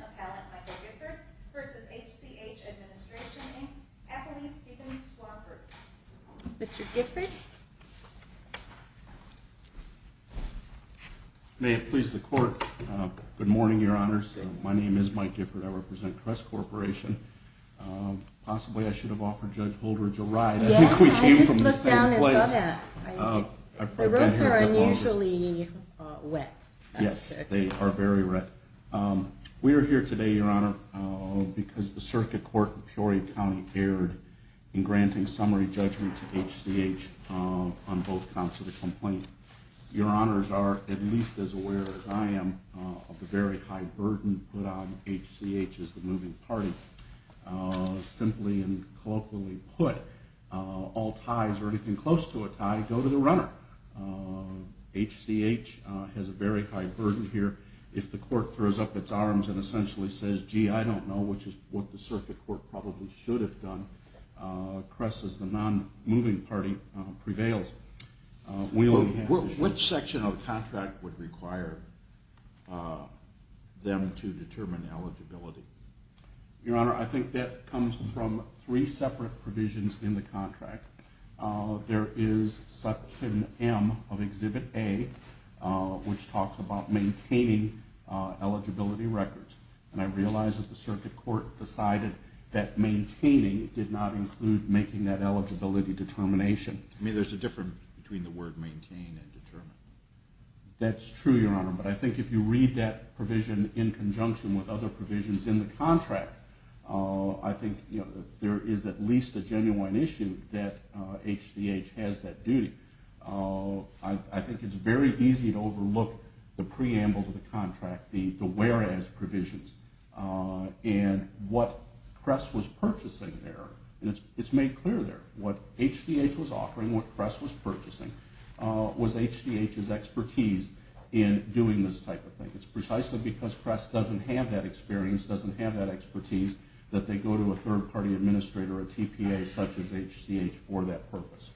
Appellant Michael Gifford v. HCH Administration, Inc., Appellee Steven Swarbrick. Mr. Gifford? May it please the Court, good morning, Your Honors. My name is Mike Gifford. I represent Kress Corporation. Possibly I should have offered Judge Holdridge a ride. Yeah, I just looked down and saw that. The roads are unusually wet. Yes, they are very wet. We are here today, Your Honor, because the Circuit Court in Peoria County erred in granting summary judgment to HCH on both counts of the complaint. Your Honors are at least as aware as I am of the very high burden put on HCH as the moving party. Simply and colloquially put, all ties or anything close to a tie go to the runner. HCH has a very high burden here. If the Court throws up its arms and essentially says, gee, I don't know, which is what the Circuit Court probably should have done, Kress as the non-moving party prevails. Which section of the contract would require them to determine eligibility? Your Honor, I think that comes from three separate provisions in the contract. There is Section M of Exhibit A, which talks about maintaining eligibility records. And I realize that the Circuit Court decided that maintaining did not include making that eligibility determination. I mean, there's a difference between the word maintain and determine. That's true, Your Honor, but I think if you read that provision in conjunction with other provisions in the contract, I think there is at least a genuine issue that HCH has that duty. I think it's very easy to overlook the preamble to the contract, the whereas provisions. And what Kress was purchasing there, it's made clear there. What HCH was offering, what Kress was purchasing, was HCH's expertise in doing this type of thing. It's precisely because Kress doesn't have that experience, doesn't have that expertise, that they go to a third-party administrator, a TPA such as HCH, for that purpose.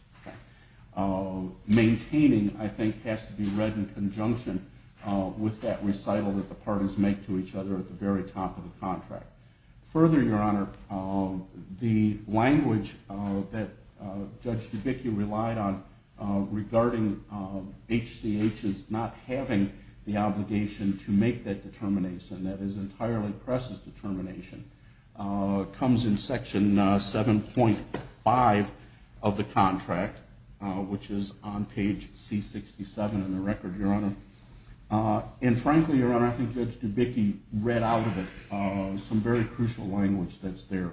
Maintaining, I think, has to be read in conjunction with that recital that the parties make to each other at the very top of the contract. Further, Your Honor, the language that Judge Dubicki relied on regarding HCH's not having the obligation to make that determination, that is entirely Kress's determination, comes in Section 7.5 of the contract, which is on page C67 in the record, Your Honor. And frankly, Your Honor, I think Judge Dubicki read out of it some very crucial language that's there.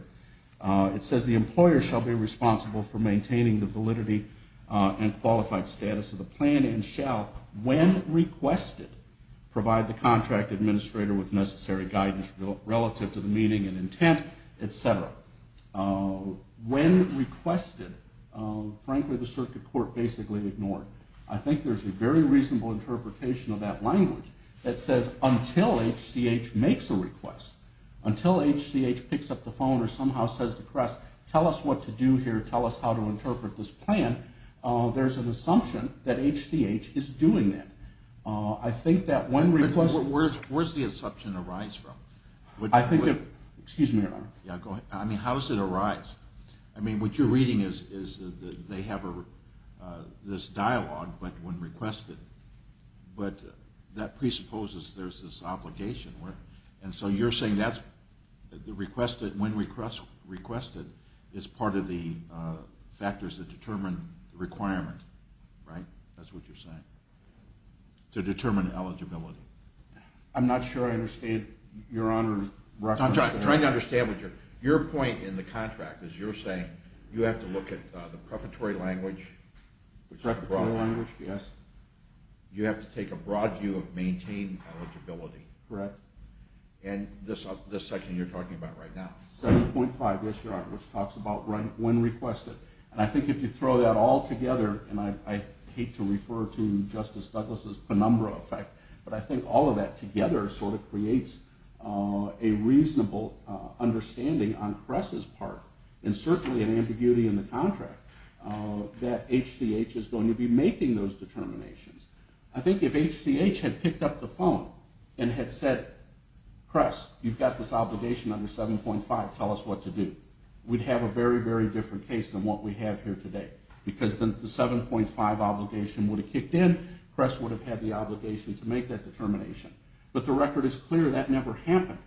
It says the employer shall be responsible for maintaining the validity and qualified status of the plan and shall, when requested, provide the contract administrator with necessary guidance relative to the meeting and intent, et cetera. When requested, frankly, the circuit court basically ignored. I think there's a very reasonable interpretation of that language that says until HCH makes a request, until HCH picks up the phone or somehow says to Kress, tell us what to do here, tell us how to interpret this plan, there's an assumption that HCH is doing that. I think that when requested... But where does the assumption arise from? I think it... Excuse me, Your Honor. Yeah, go ahead. I mean, how does it arise? I mean, what you're reading is they have this dialogue, but when requested. But that presupposes there's this obligation. And so you're saying when requested is part of the factors that determine the requirement, right? That's what you're saying, to determine eligibility. I'm not sure I understand Your Honor's reference. I'm trying to understand what you're... Your point in the contract is you're saying you have to look at the prefatory language. Prefatory language, yes. You have to take a broad view of maintained eligibility. Correct. And this section you're talking about right now. 7.5, yes, Your Honor, which talks about when requested. And I think if you throw that all together, and I hate to refer to Justice Douglas' penumbra effect, but I think all of that together sort of creates a reasonable understanding on Kress's part, and certainly an ambiguity in the contract, that HCH is going to be making those determinations. I think if HCH had picked up the phone and had said, Kress, you've got this obligation under 7.5, tell us what to do, we'd have a very, very different case than what we have here today. Because the 7.5 obligation would have kicked in. Kress would have had the obligation to make that determination. But the record is clear that never happened.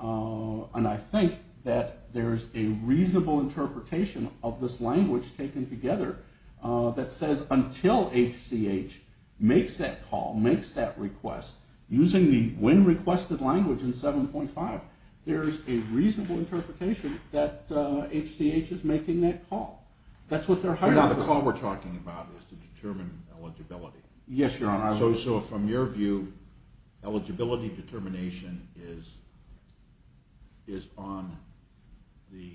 And I think that there's a reasonable interpretation of this language taken together that says, until HCH makes that call, makes that request, using the when requested language in 7.5, there's a reasonable interpretation that HCH is making that call. But now the call we're talking about is to determine eligibility. Yes, Your Honor. So from your view, eligibility determination is on the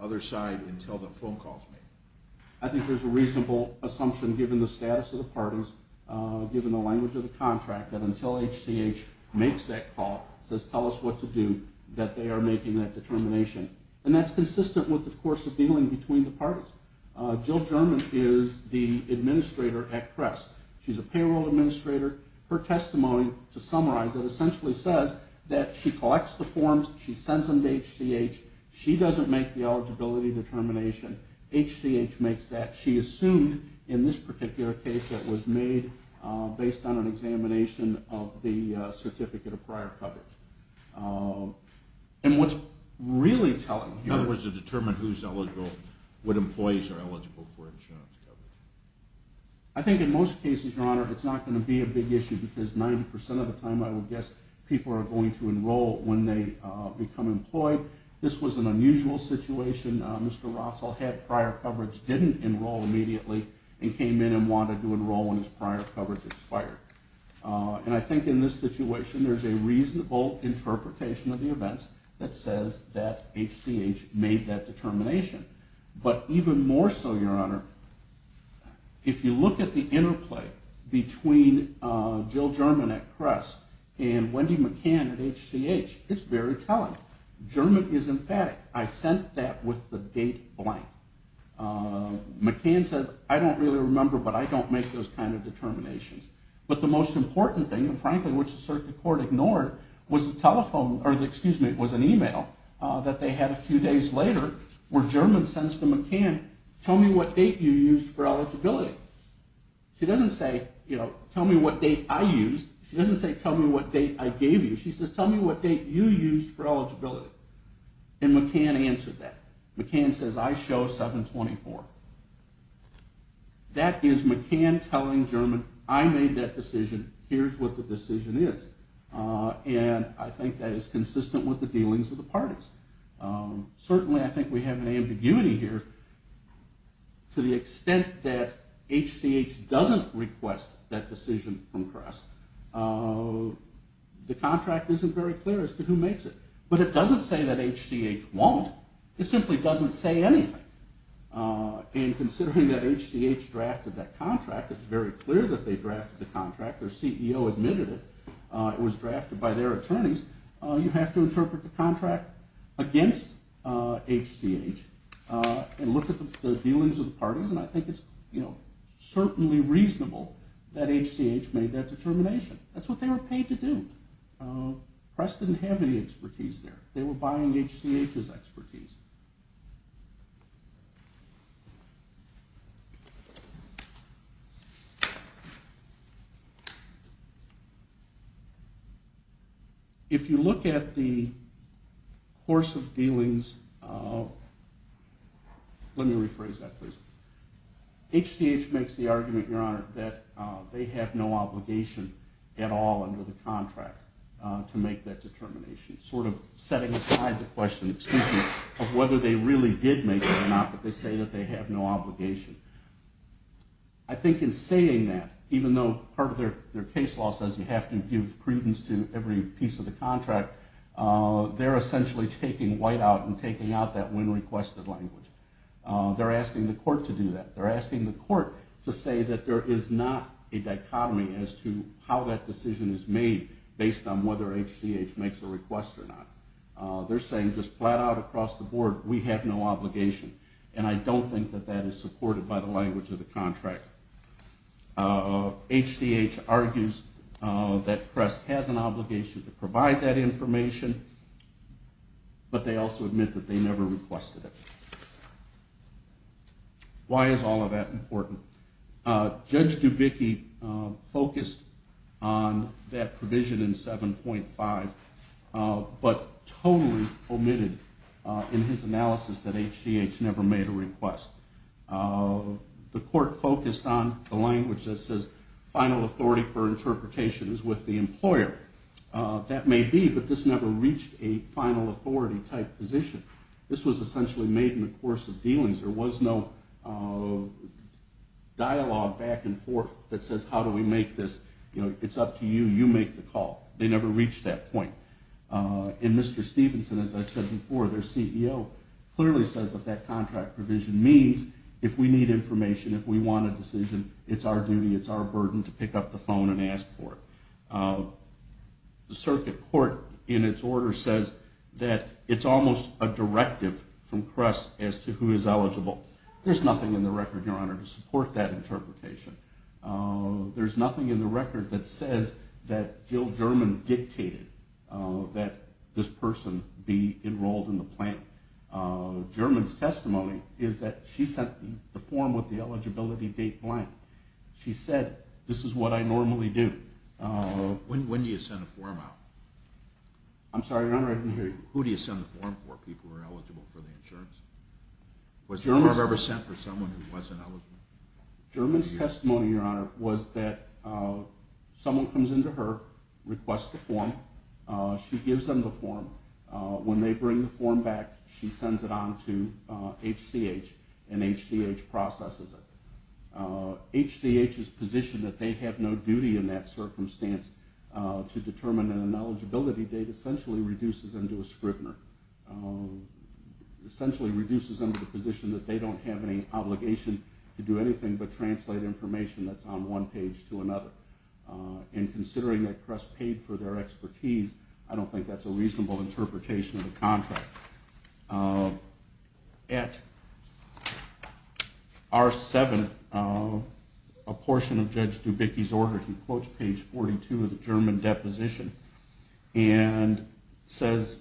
other side until the phone call is made. I think there's a reasonable assumption, given the status of the parties, given the language of the contract, that until HCH makes that call, says tell us what to do, that they are making that determination. And that's consistent with, of course, the dealing between the parties. Jill German is the administrator at Kress. She's a payroll administrator. Her testimony, to summarize it, essentially says that she collects the forms, she sends them to HCH, she doesn't make the eligibility determination. HCH makes that. She assumed, in this particular case that was made based on an examination of the certificate of prior coverage. And what's really telling here... In other words, to determine who's eligible, what employees are eligible for insurance coverage. I think in most cases, Your Honor, it's not going to be a big issue, because 90% of the time I would guess people are going to enroll when they become employed. This was an unusual situation. Mr. Rossell had prior coverage, didn't enroll immediately, and came in and wanted to enroll when his prior coverage expired. And I think in this situation there's a reasonable interpretation of the events that says that HCH made that determination. But even more so, Your Honor, if you look at the interplay between Jill German at Kress and Wendy McCann at HCH, it's very telling. German is emphatic. I sent that with the date blank. McCann says, I don't really remember, but I don't make those kind of determinations. But the most important thing, and frankly, which the circuit court ignored, was an email that they had a few days later, where German sends to McCann, tell me what date you used for eligibility. She doesn't say, tell me what date I used. She doesn't say, tell me what date I gave you. She says, tell me what date you used for eligibility. And McCann answered that. McCann says, I show 7-24. That is McCann telling German, I made that decision. Here's what the decision is. And I think that is consistent with the dealings of the parties. Certainly I think we have an ambiguity here. To the extent that HCH doesn't request that decision from Kress, the contract isn't very clear as to who makes it. But it doesn't say that HCH won't. It simply doesn't say anything. And considering that HCH drafted that contract, it's very clear that they drafted the contract. Their CEO admitted it. It was drafted by their attorneys. You have to interpret the contract against HCH and look at the dealings of the parties, and I think it's certainly reasonable that HCH made that determination. That's what they were paid to do. Kress didn't have any expertise there. They were buying HCH's expertise. If you look at the course of dealings, let me rephrase that, please. HCH makes the argument, Your Honor, that they have no obligation at all under the contract to make that determination. Sort of setting aside the question, excuse me, of whether they really did make it or not, but they say that they have no obligation. I think in saying that, even though part of their case law says you have to give credence to every piece of the contract, they're essentially taking whiteout and taking out that when-requested language. They're asking the court to do that. They're asking the court to say that there is not a dichotomy as to how that decision is made based on whether HCH makes a request or not. They're saying just flat out across the board, we have no obligation, and I don't think that that is supported by the language of the contract. HCH argues that Kress has an obligation to provide that information, but they also admit that they never requested it. Why is all of that important? Judge Dubicki focused on that provision in 7.5, but totally omitted in his analysis that HCH never made a request. The court focused on the language that says final authority for interpretation is with the employer. That may be, but this never reached a final authority type position. This was essentially made in the course of dealings. There was no dialogue back and forth that says, how do we make this? It's up to you, you make the call. They never reached that point. And Mr. Stevenson, as I said before, their CEO, clearly says that that contract provision means if we need information, if we want a decision, it's our duty, it's our burden to pick up the phone and ask for it. The circuit court, in its order, says that it's almost a directive from Kress as to who is eligible. There's nothing in the record, Your Honor, to support that interpretation. There's nothing in the record that says that Jill German dictated that this person be enrolled in the plan. German's testimony is that she sent the form with the eligibility date blank. She said, this is what I normally do. When do you send a form out? I'm sorry, Your Honor, I didn't hear you. Who do you send the form for, people who are eligible for the insurance? Was there ever a form sent for someone who wasn't eligible? German's testimony, Your Honor, was that someone comes in to her, requests the form, she gives them the form. When they bring the form back, she sends it on to HCH, and HCH processes it. HCH is positioned that they have no duty in that circumstance to determine an eligibility date, essentially reduces them to a scrivener. Essentially reduces them to the position that they don't have any obligation to do anything but translate information that's on one page to another. And considering that Kress paid for their expertise, I don't think that's a reasonable interpretation of the contract. At R7, a portion of Judge Dubicki's order, he quotes page 42 of the German deposition and says,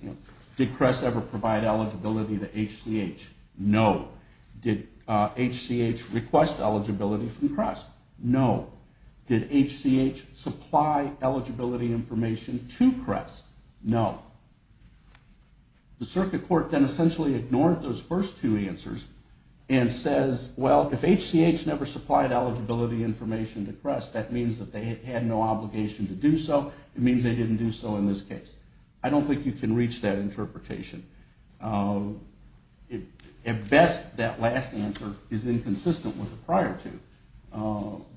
did Kress ever provide eligibility to HCH? No. Did HCH request eligibility from Kress? No. Did HCH supply eligibility information to Kress? No. The circuit court then essentially ignored those first two answers and says, well, if HCH never supplied eligibility information to Kress, that means that they had no obligation to do so. It means they didn't do so in this case. I don't think you can reach that interpretation. At best, that last answer is inconsistent with the prior two.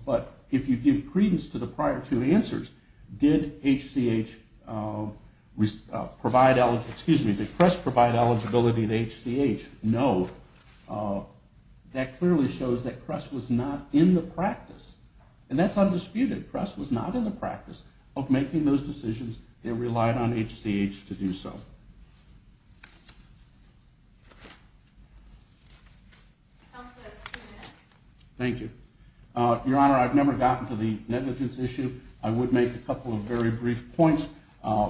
But if you give credence to the prior two answers, did Kress provide eligibility to HCH? No. That clearly shows that Kress was not in the practice. And that's undisputed. Kress was not in the practice of making those decisions and relied on HCH to do so. Counsel, that's two minutes. Thank you. Your Honor, I've never gotten to the negligence issue. I would make a couple of very brief points.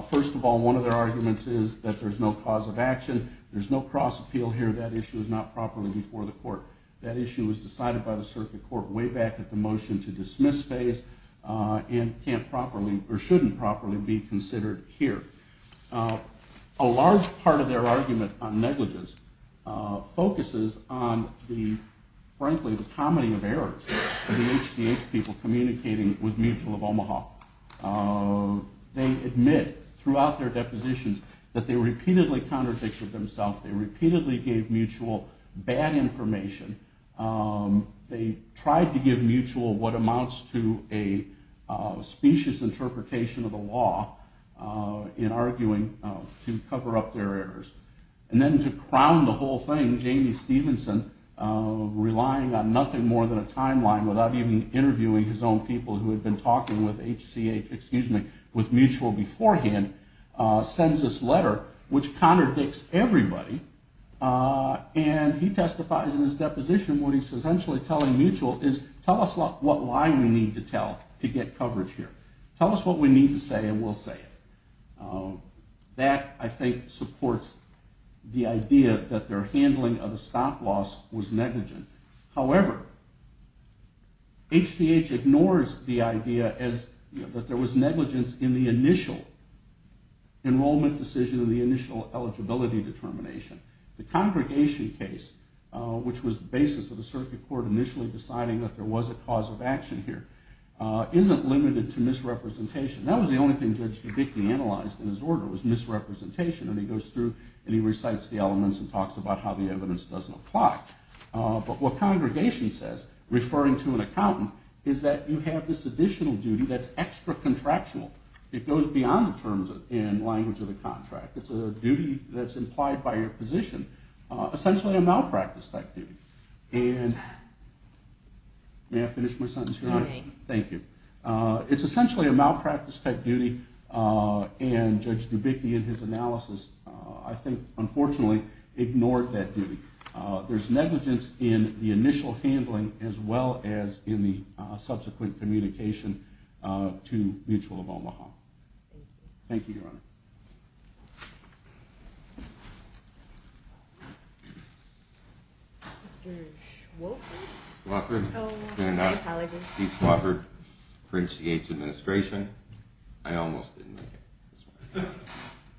First of all, one of their arguments is that there's no cause of action. There's no cross appeal here. That issue is not properly before the court. That issue was decided by the circuit court way back at the motion to dismiss phase and can't properly or shouldn't properly be considered here. A large part of their argument on negligence focuses on the, frankly, the comedy of errors of the HCH people communicating with Mutual of Omaha. They admit throughout their depositions that they repeatedly contradicted themselves. They repeatedly gave Mutual bad information. They tried to give Mutual what amounts to a specious interpretation of the law in arguing to cover up their errors. And then to crown the whole thing, Jamie Stevenson, relying on nothing more than a timeline without even interviewing his own people who had been talking with Mutual beforehand, sends this letter which contradicts everybody. And he testifies in his deposition what he's essentially telling Mutual is, tell us why we need to tell to get coverage here. Tell us what we need to say and we'll say it. That, I think, supports the idea that their handling of the stock loss was negligent. However, HCH ignores the idea that there was negligence in the initial enrollment decision and the initial eligibility determination. The congregation case, which was the basis of the circuit court initially deciding that there was a cause of action here, isn't limited to misrepresentation. That was the only thing Judge Dubicki analyzed in his order was misrepresentation. And he goes through and he recites the elements and talks about how the evidence doesn't apply. But what congregation says, referring to an accountant, is that you have this additional duty that's extra contractual. It goes beyond the terms and language of the contract. It's a duty that's implied by your position, essentially a malpractice type duty. And may I finish my sentence here? All right. Thank you. It's essentially a malpractice type duty and Judge Dubicki in his analysis, I think, unfortunately, ignored that duty. There's negligence in the initial handling as well as in the subsequent communication to Mutual of Omaha. Thank you. Thank you, Your Honor. Mr. Swofford? Swofford. Oh, my apologies. Steve Swofford for HCH administration. I almost didn't make it this morning.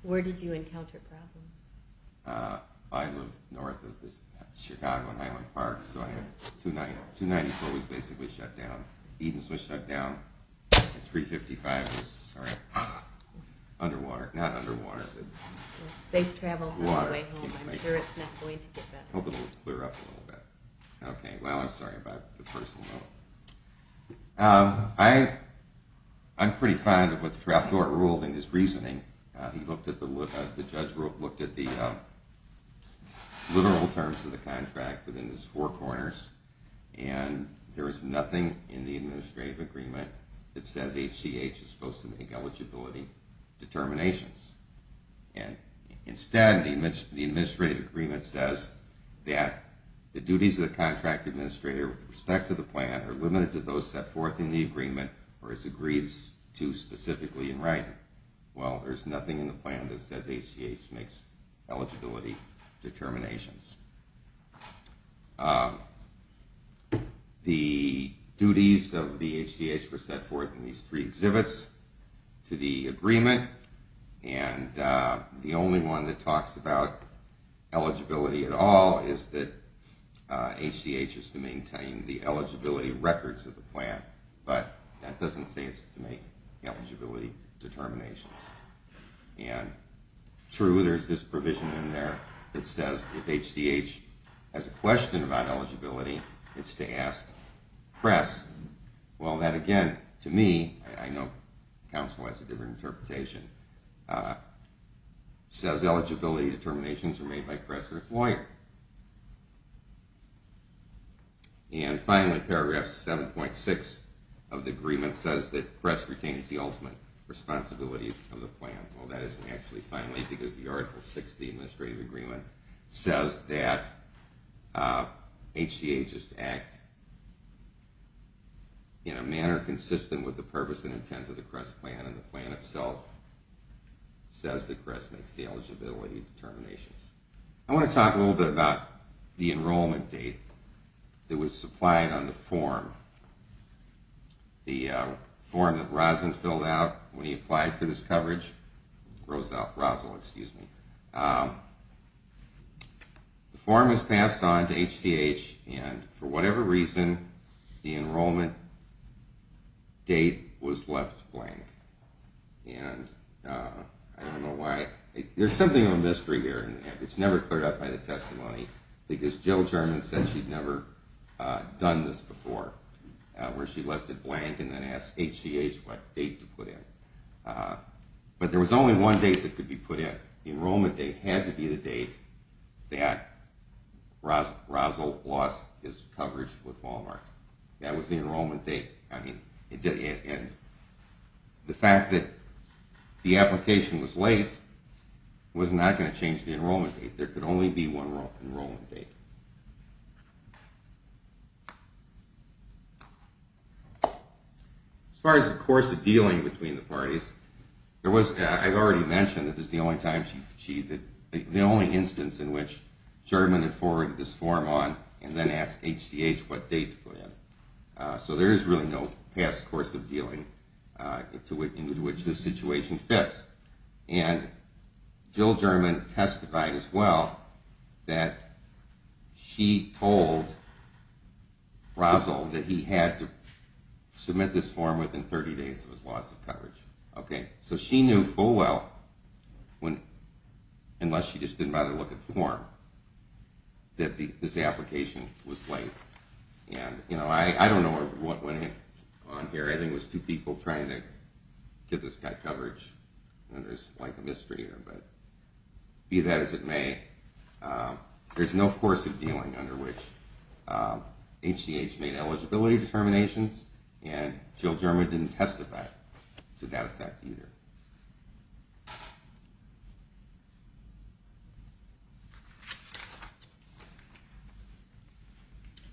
Where did you encounter problems? I live north of this Chicago and Highland Park. So 294 was basically shut down. Edens was shut down. And 355 was, sorry, underwater. Not underwater, but water. Safe travels on the way home. I'm sure it's not going to get better. I hope it will clear up a little bit. Okay. Well, I'm sorry about the personal note. I'm pretty fond of what the trial court ruled in his reasoning. The judge looked at the literal terms of the contract within his four corners, and there was nothing in the administrative agreement that says HCH is supposed to make eligibility determinations. And instead, the administrative agreement says that the duties of the contract administrator with respect to the plan are limited to those set forth in the agreement or as agreed to specifically in writing. Well, there's nothing in the plan that says HCH makes eligibility determinations. The duties of the HCH were set forth in these three exhibits to the agreement, and the only one that talks about eligibility at all is that HCH is to maintain the eligibility records of the plan, but that doesn't say it's to make eligibility determinations. And true, there's this provision in there that says if HCH has a question about eligibility, it's to ask press. Well, that again, to me, I know counsel has a different interpretation, says eligibility determinations are made by press or its lawyer. And finally, paragraph 7.6 of the agreement says that press retains the ultimate responsibility of the plan. Well, that isn't actually finally, because the article 6 of the administrative agreement says that HCH is to act in a manner consistent with the purpose and intent of the Crest plan, and the plan itself says that Crest makes the eligibility determinations. I want to talk a little bit about the enrollment date that was supplied on the form. The form that Roslyn filled out when he applied for this coverage, Roslyn, excuse me. The form was passed on to HCH, and for whatever reason, the enrollment date was left blank. And I don't know why. There's something of a mystery here. It's never cleared up by the testimony, because Jill German said she'd never done this before, where she left it blank and then asked HCH what date to put in. But there was only one date that could be put in. The enrollment date had to be the date that Roslyn lost his coverage with Walmart. That was the enrollment date. And the fact that the application was late was not going to change the enrollment date. There could only be one enrollment date. As far as the course of dealing between the parties, I've already mentioned that this is the only instance in which I've asked HCH what date to put in. So there is really no past course of dealing in which this situation fits. And Jill German testified as well that she told Roslyn that he had to submit this form within 30 days of his loss of coverage. So she knew full well, unless she just didn't bother to look at the form, that this application was late. And I don't know what went on here. I think it was two people trying to get this guy coverage. There's a mystery here, but be that as it may, there's no course of dealing under which HCH made eligibility determinations, and Jill German didn't testify to that effect either.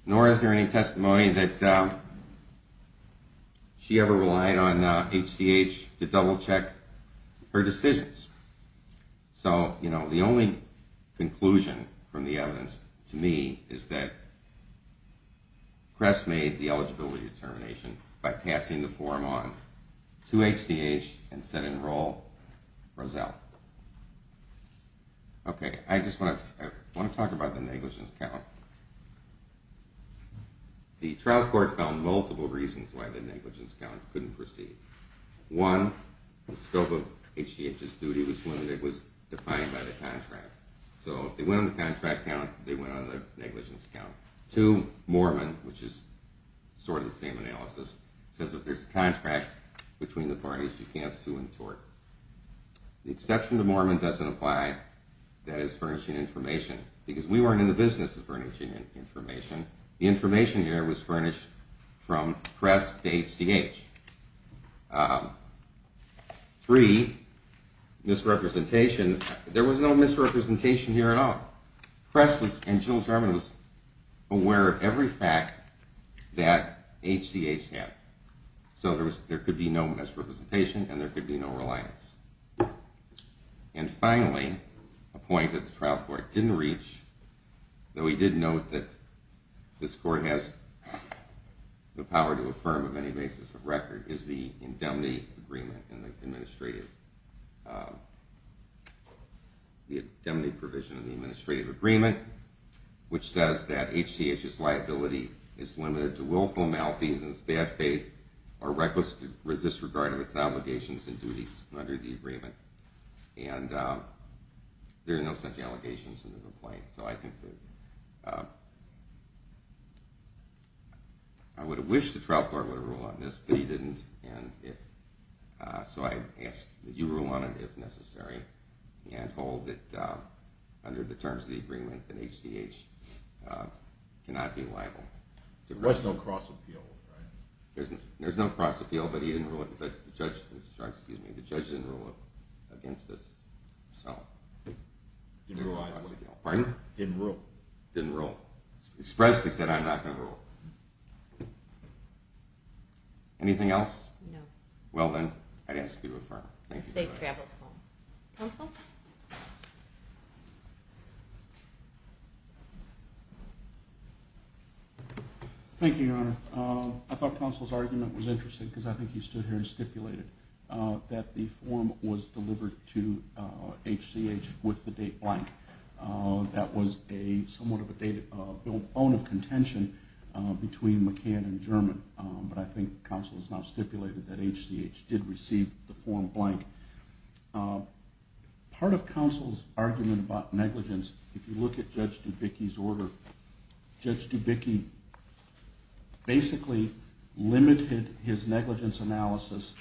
Nor is there any testimony that she ever relied on HCH to double-check her decisions. So the only conclusion from the evidence to me is that Crest made the eligibility determination by passing the form on to HCH and said enroll Rozelle. Okay, I just want to talk about the negligence count. The trial court found multiple reasons why the negligence count couldn't proceed. One, the scope of HCH's duty was limited, it was defined by the contract. So they went on the contract count, they went on the negligence count. Two, Moorman, which is sort of the same analysis, says if there's a contract between the parties, you can't sue and tort. The exception to Moorman doesn't apply, that is furnishing information, because we weren't in the business of furnishing information. The information here was furnished from Crest to HCH. Three, misrepresentation. There was no misrepresentation here at all. Crest and Jill German was aware of every fact that HCH had. So there could be no misrepresentation and there could be no reliance. And finally, a point that the trial court didn't reach, though he did note that this court has the power to affirm on any basis of record, is the indemnity provision in the administrative agreement, which says that HCH's liability is limited to willful malfeasance, bad faith, or reckless disregard of its obligations and duties under the agreement. And there are no such allegations in the complaint. So I think that I would have wished the trial court would have ruled on this, but he didn't. So I ask that you rule on it if necessary and hold that under the terms of the agreement that HCH cannot be liable. There was no cross-appeal, right? There's no cross-appeal, but the judge didn't rule it against us. Didn't rule either. Pardon? Didn't rule. Didn't rule. Expressly said, I'm not going to rule. Anything else? No. Well, then, I'd ask you to affirm. Safe travels home. Counsel? Thank you, Your Honor. I thought counsel's argument was interesting because I think he stood here and stipulated that the form was delivered to HCH with the date blank. That was somewhat of a bone of contention between McCann and German, but I think counsel has now stipulated that HCH did receive the form blank. Part of counsel's argument about negligence, if you look at Judge Dubicki's order, Judge Dubicki basically limited his negligence analysis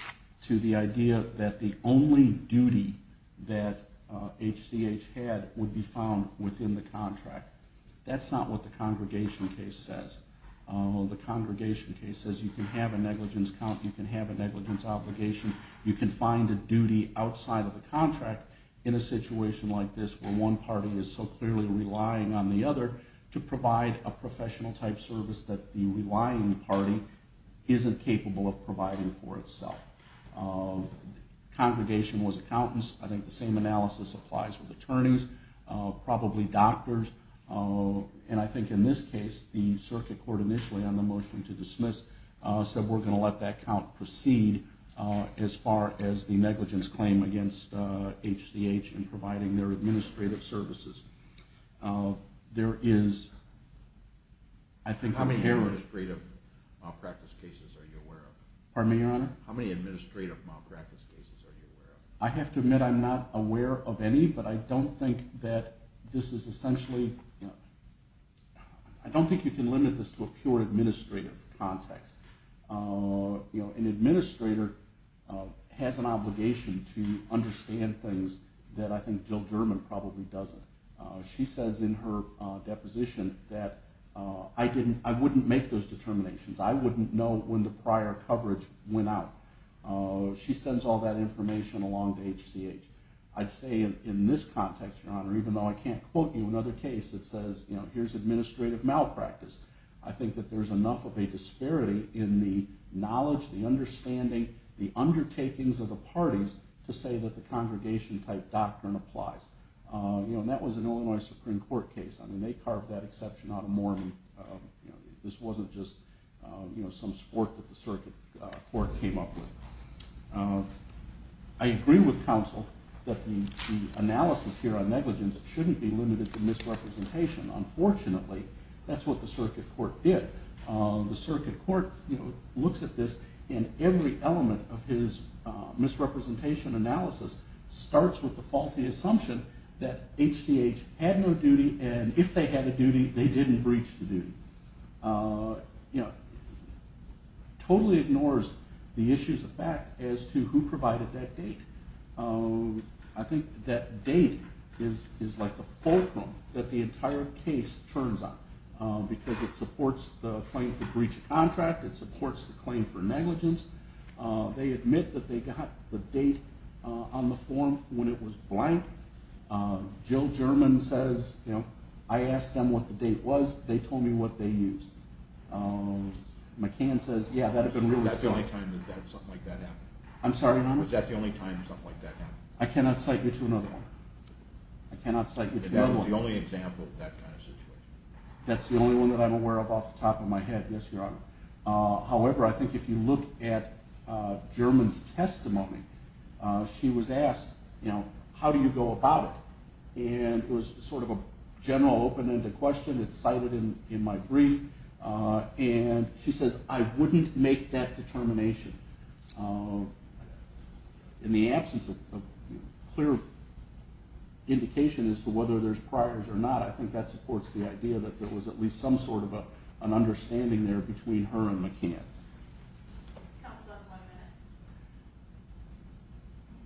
to the idea that the only duty that HCH had would be found within the contract. That's not what the congregation case says. The congregation case says you can have a negligence count. You can have a negligence obligation. You can find a duty outside of the contract in a situation like this where one party is so clearly relying on the other to provide a professional-type service that the relying party isn't capable of providing for itself. Congregation was accountants. I think the same analysis applies with attorneys, probably doctors. I think in this case, the circuit court initially on the motion to dismiss said we're going to let that count proceed as far as the negligence claim against HCH in providing their administrative services. How many administrative malpractice cases are you aware of? Pardon me, Your Honor? How many administrative malpractice cases are you aware of? I have to admit I'm not aware of any, but I don't think that this is essentially – I don't think you can limit this to a pure administrative context. An administrator has an obligation to understand things that I think Jill German probably doesn't. She says in her deposition that I wouldn't make those determinations. I wouldn't know when the prior coverage went out. She sends all that information along to HCH. I'd say in this context, Your Honor, even though I can't quote you another case that says here's administrative malpractice, I think that there's enough of a disparity in the knowledge, the understanding, the undertakings of the parties to say that the congregation-type doctrine applies. That was an Illinois Supreme Court case. They carved that exception out of Mormon. This wasn't just some sport that the circuit court came up with. I agree with counsel that the analysis here on negligence shouldn't be limited to misrepresentation. Unfortunately, that's what the circuit court did. The circuit court looks at this, and every element of his misrepresentation analysis starts with the faulty assumption that HCH had no duty, and if they had a duty, they didn't breach the duty. Totally ignores the issues of fact as to who provided that date. I think that date is like the fulcrum that the entire case turns on because it supports the claim for breach of contract. It supports the claim for negligence. They admit that they got the date on the form when it was blank. Jill German says, you know, I asked them what the date was. They told me what they used. McCann says, yeah, that had been really slow. Was that the only time that something like that happened? I'm sorry, Your Honor? Was that the only time something like that happened? I cannot cite you to another one. I cannot cite you to another one. If that was the only example of that kind of situation. However, I think if you look at German's testimony, she was asked, you know, how do you go about it? And it was sort of a general open-ended question. It's cited in my brief. And she says, I wouldn't make that determination. In the absence of clear indication as to whether there's priors or not, I think that supports the idea that there was at least some sort of an understanding there between her and McCann. Counsel, that's one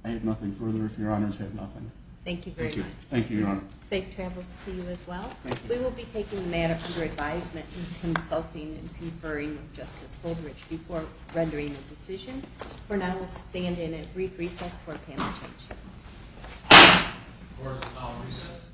minute. I have nothing further if Your Honor's have nothing. Thank you very much. Thank you, Your Honor. Safe travels to you as well. Thank you. We will be taking the matter under advisement and consulting and conferring with Justice Goldrich before rendering a decision. For now, we'll stand in a brief recess for a panel change. Court is now in recess.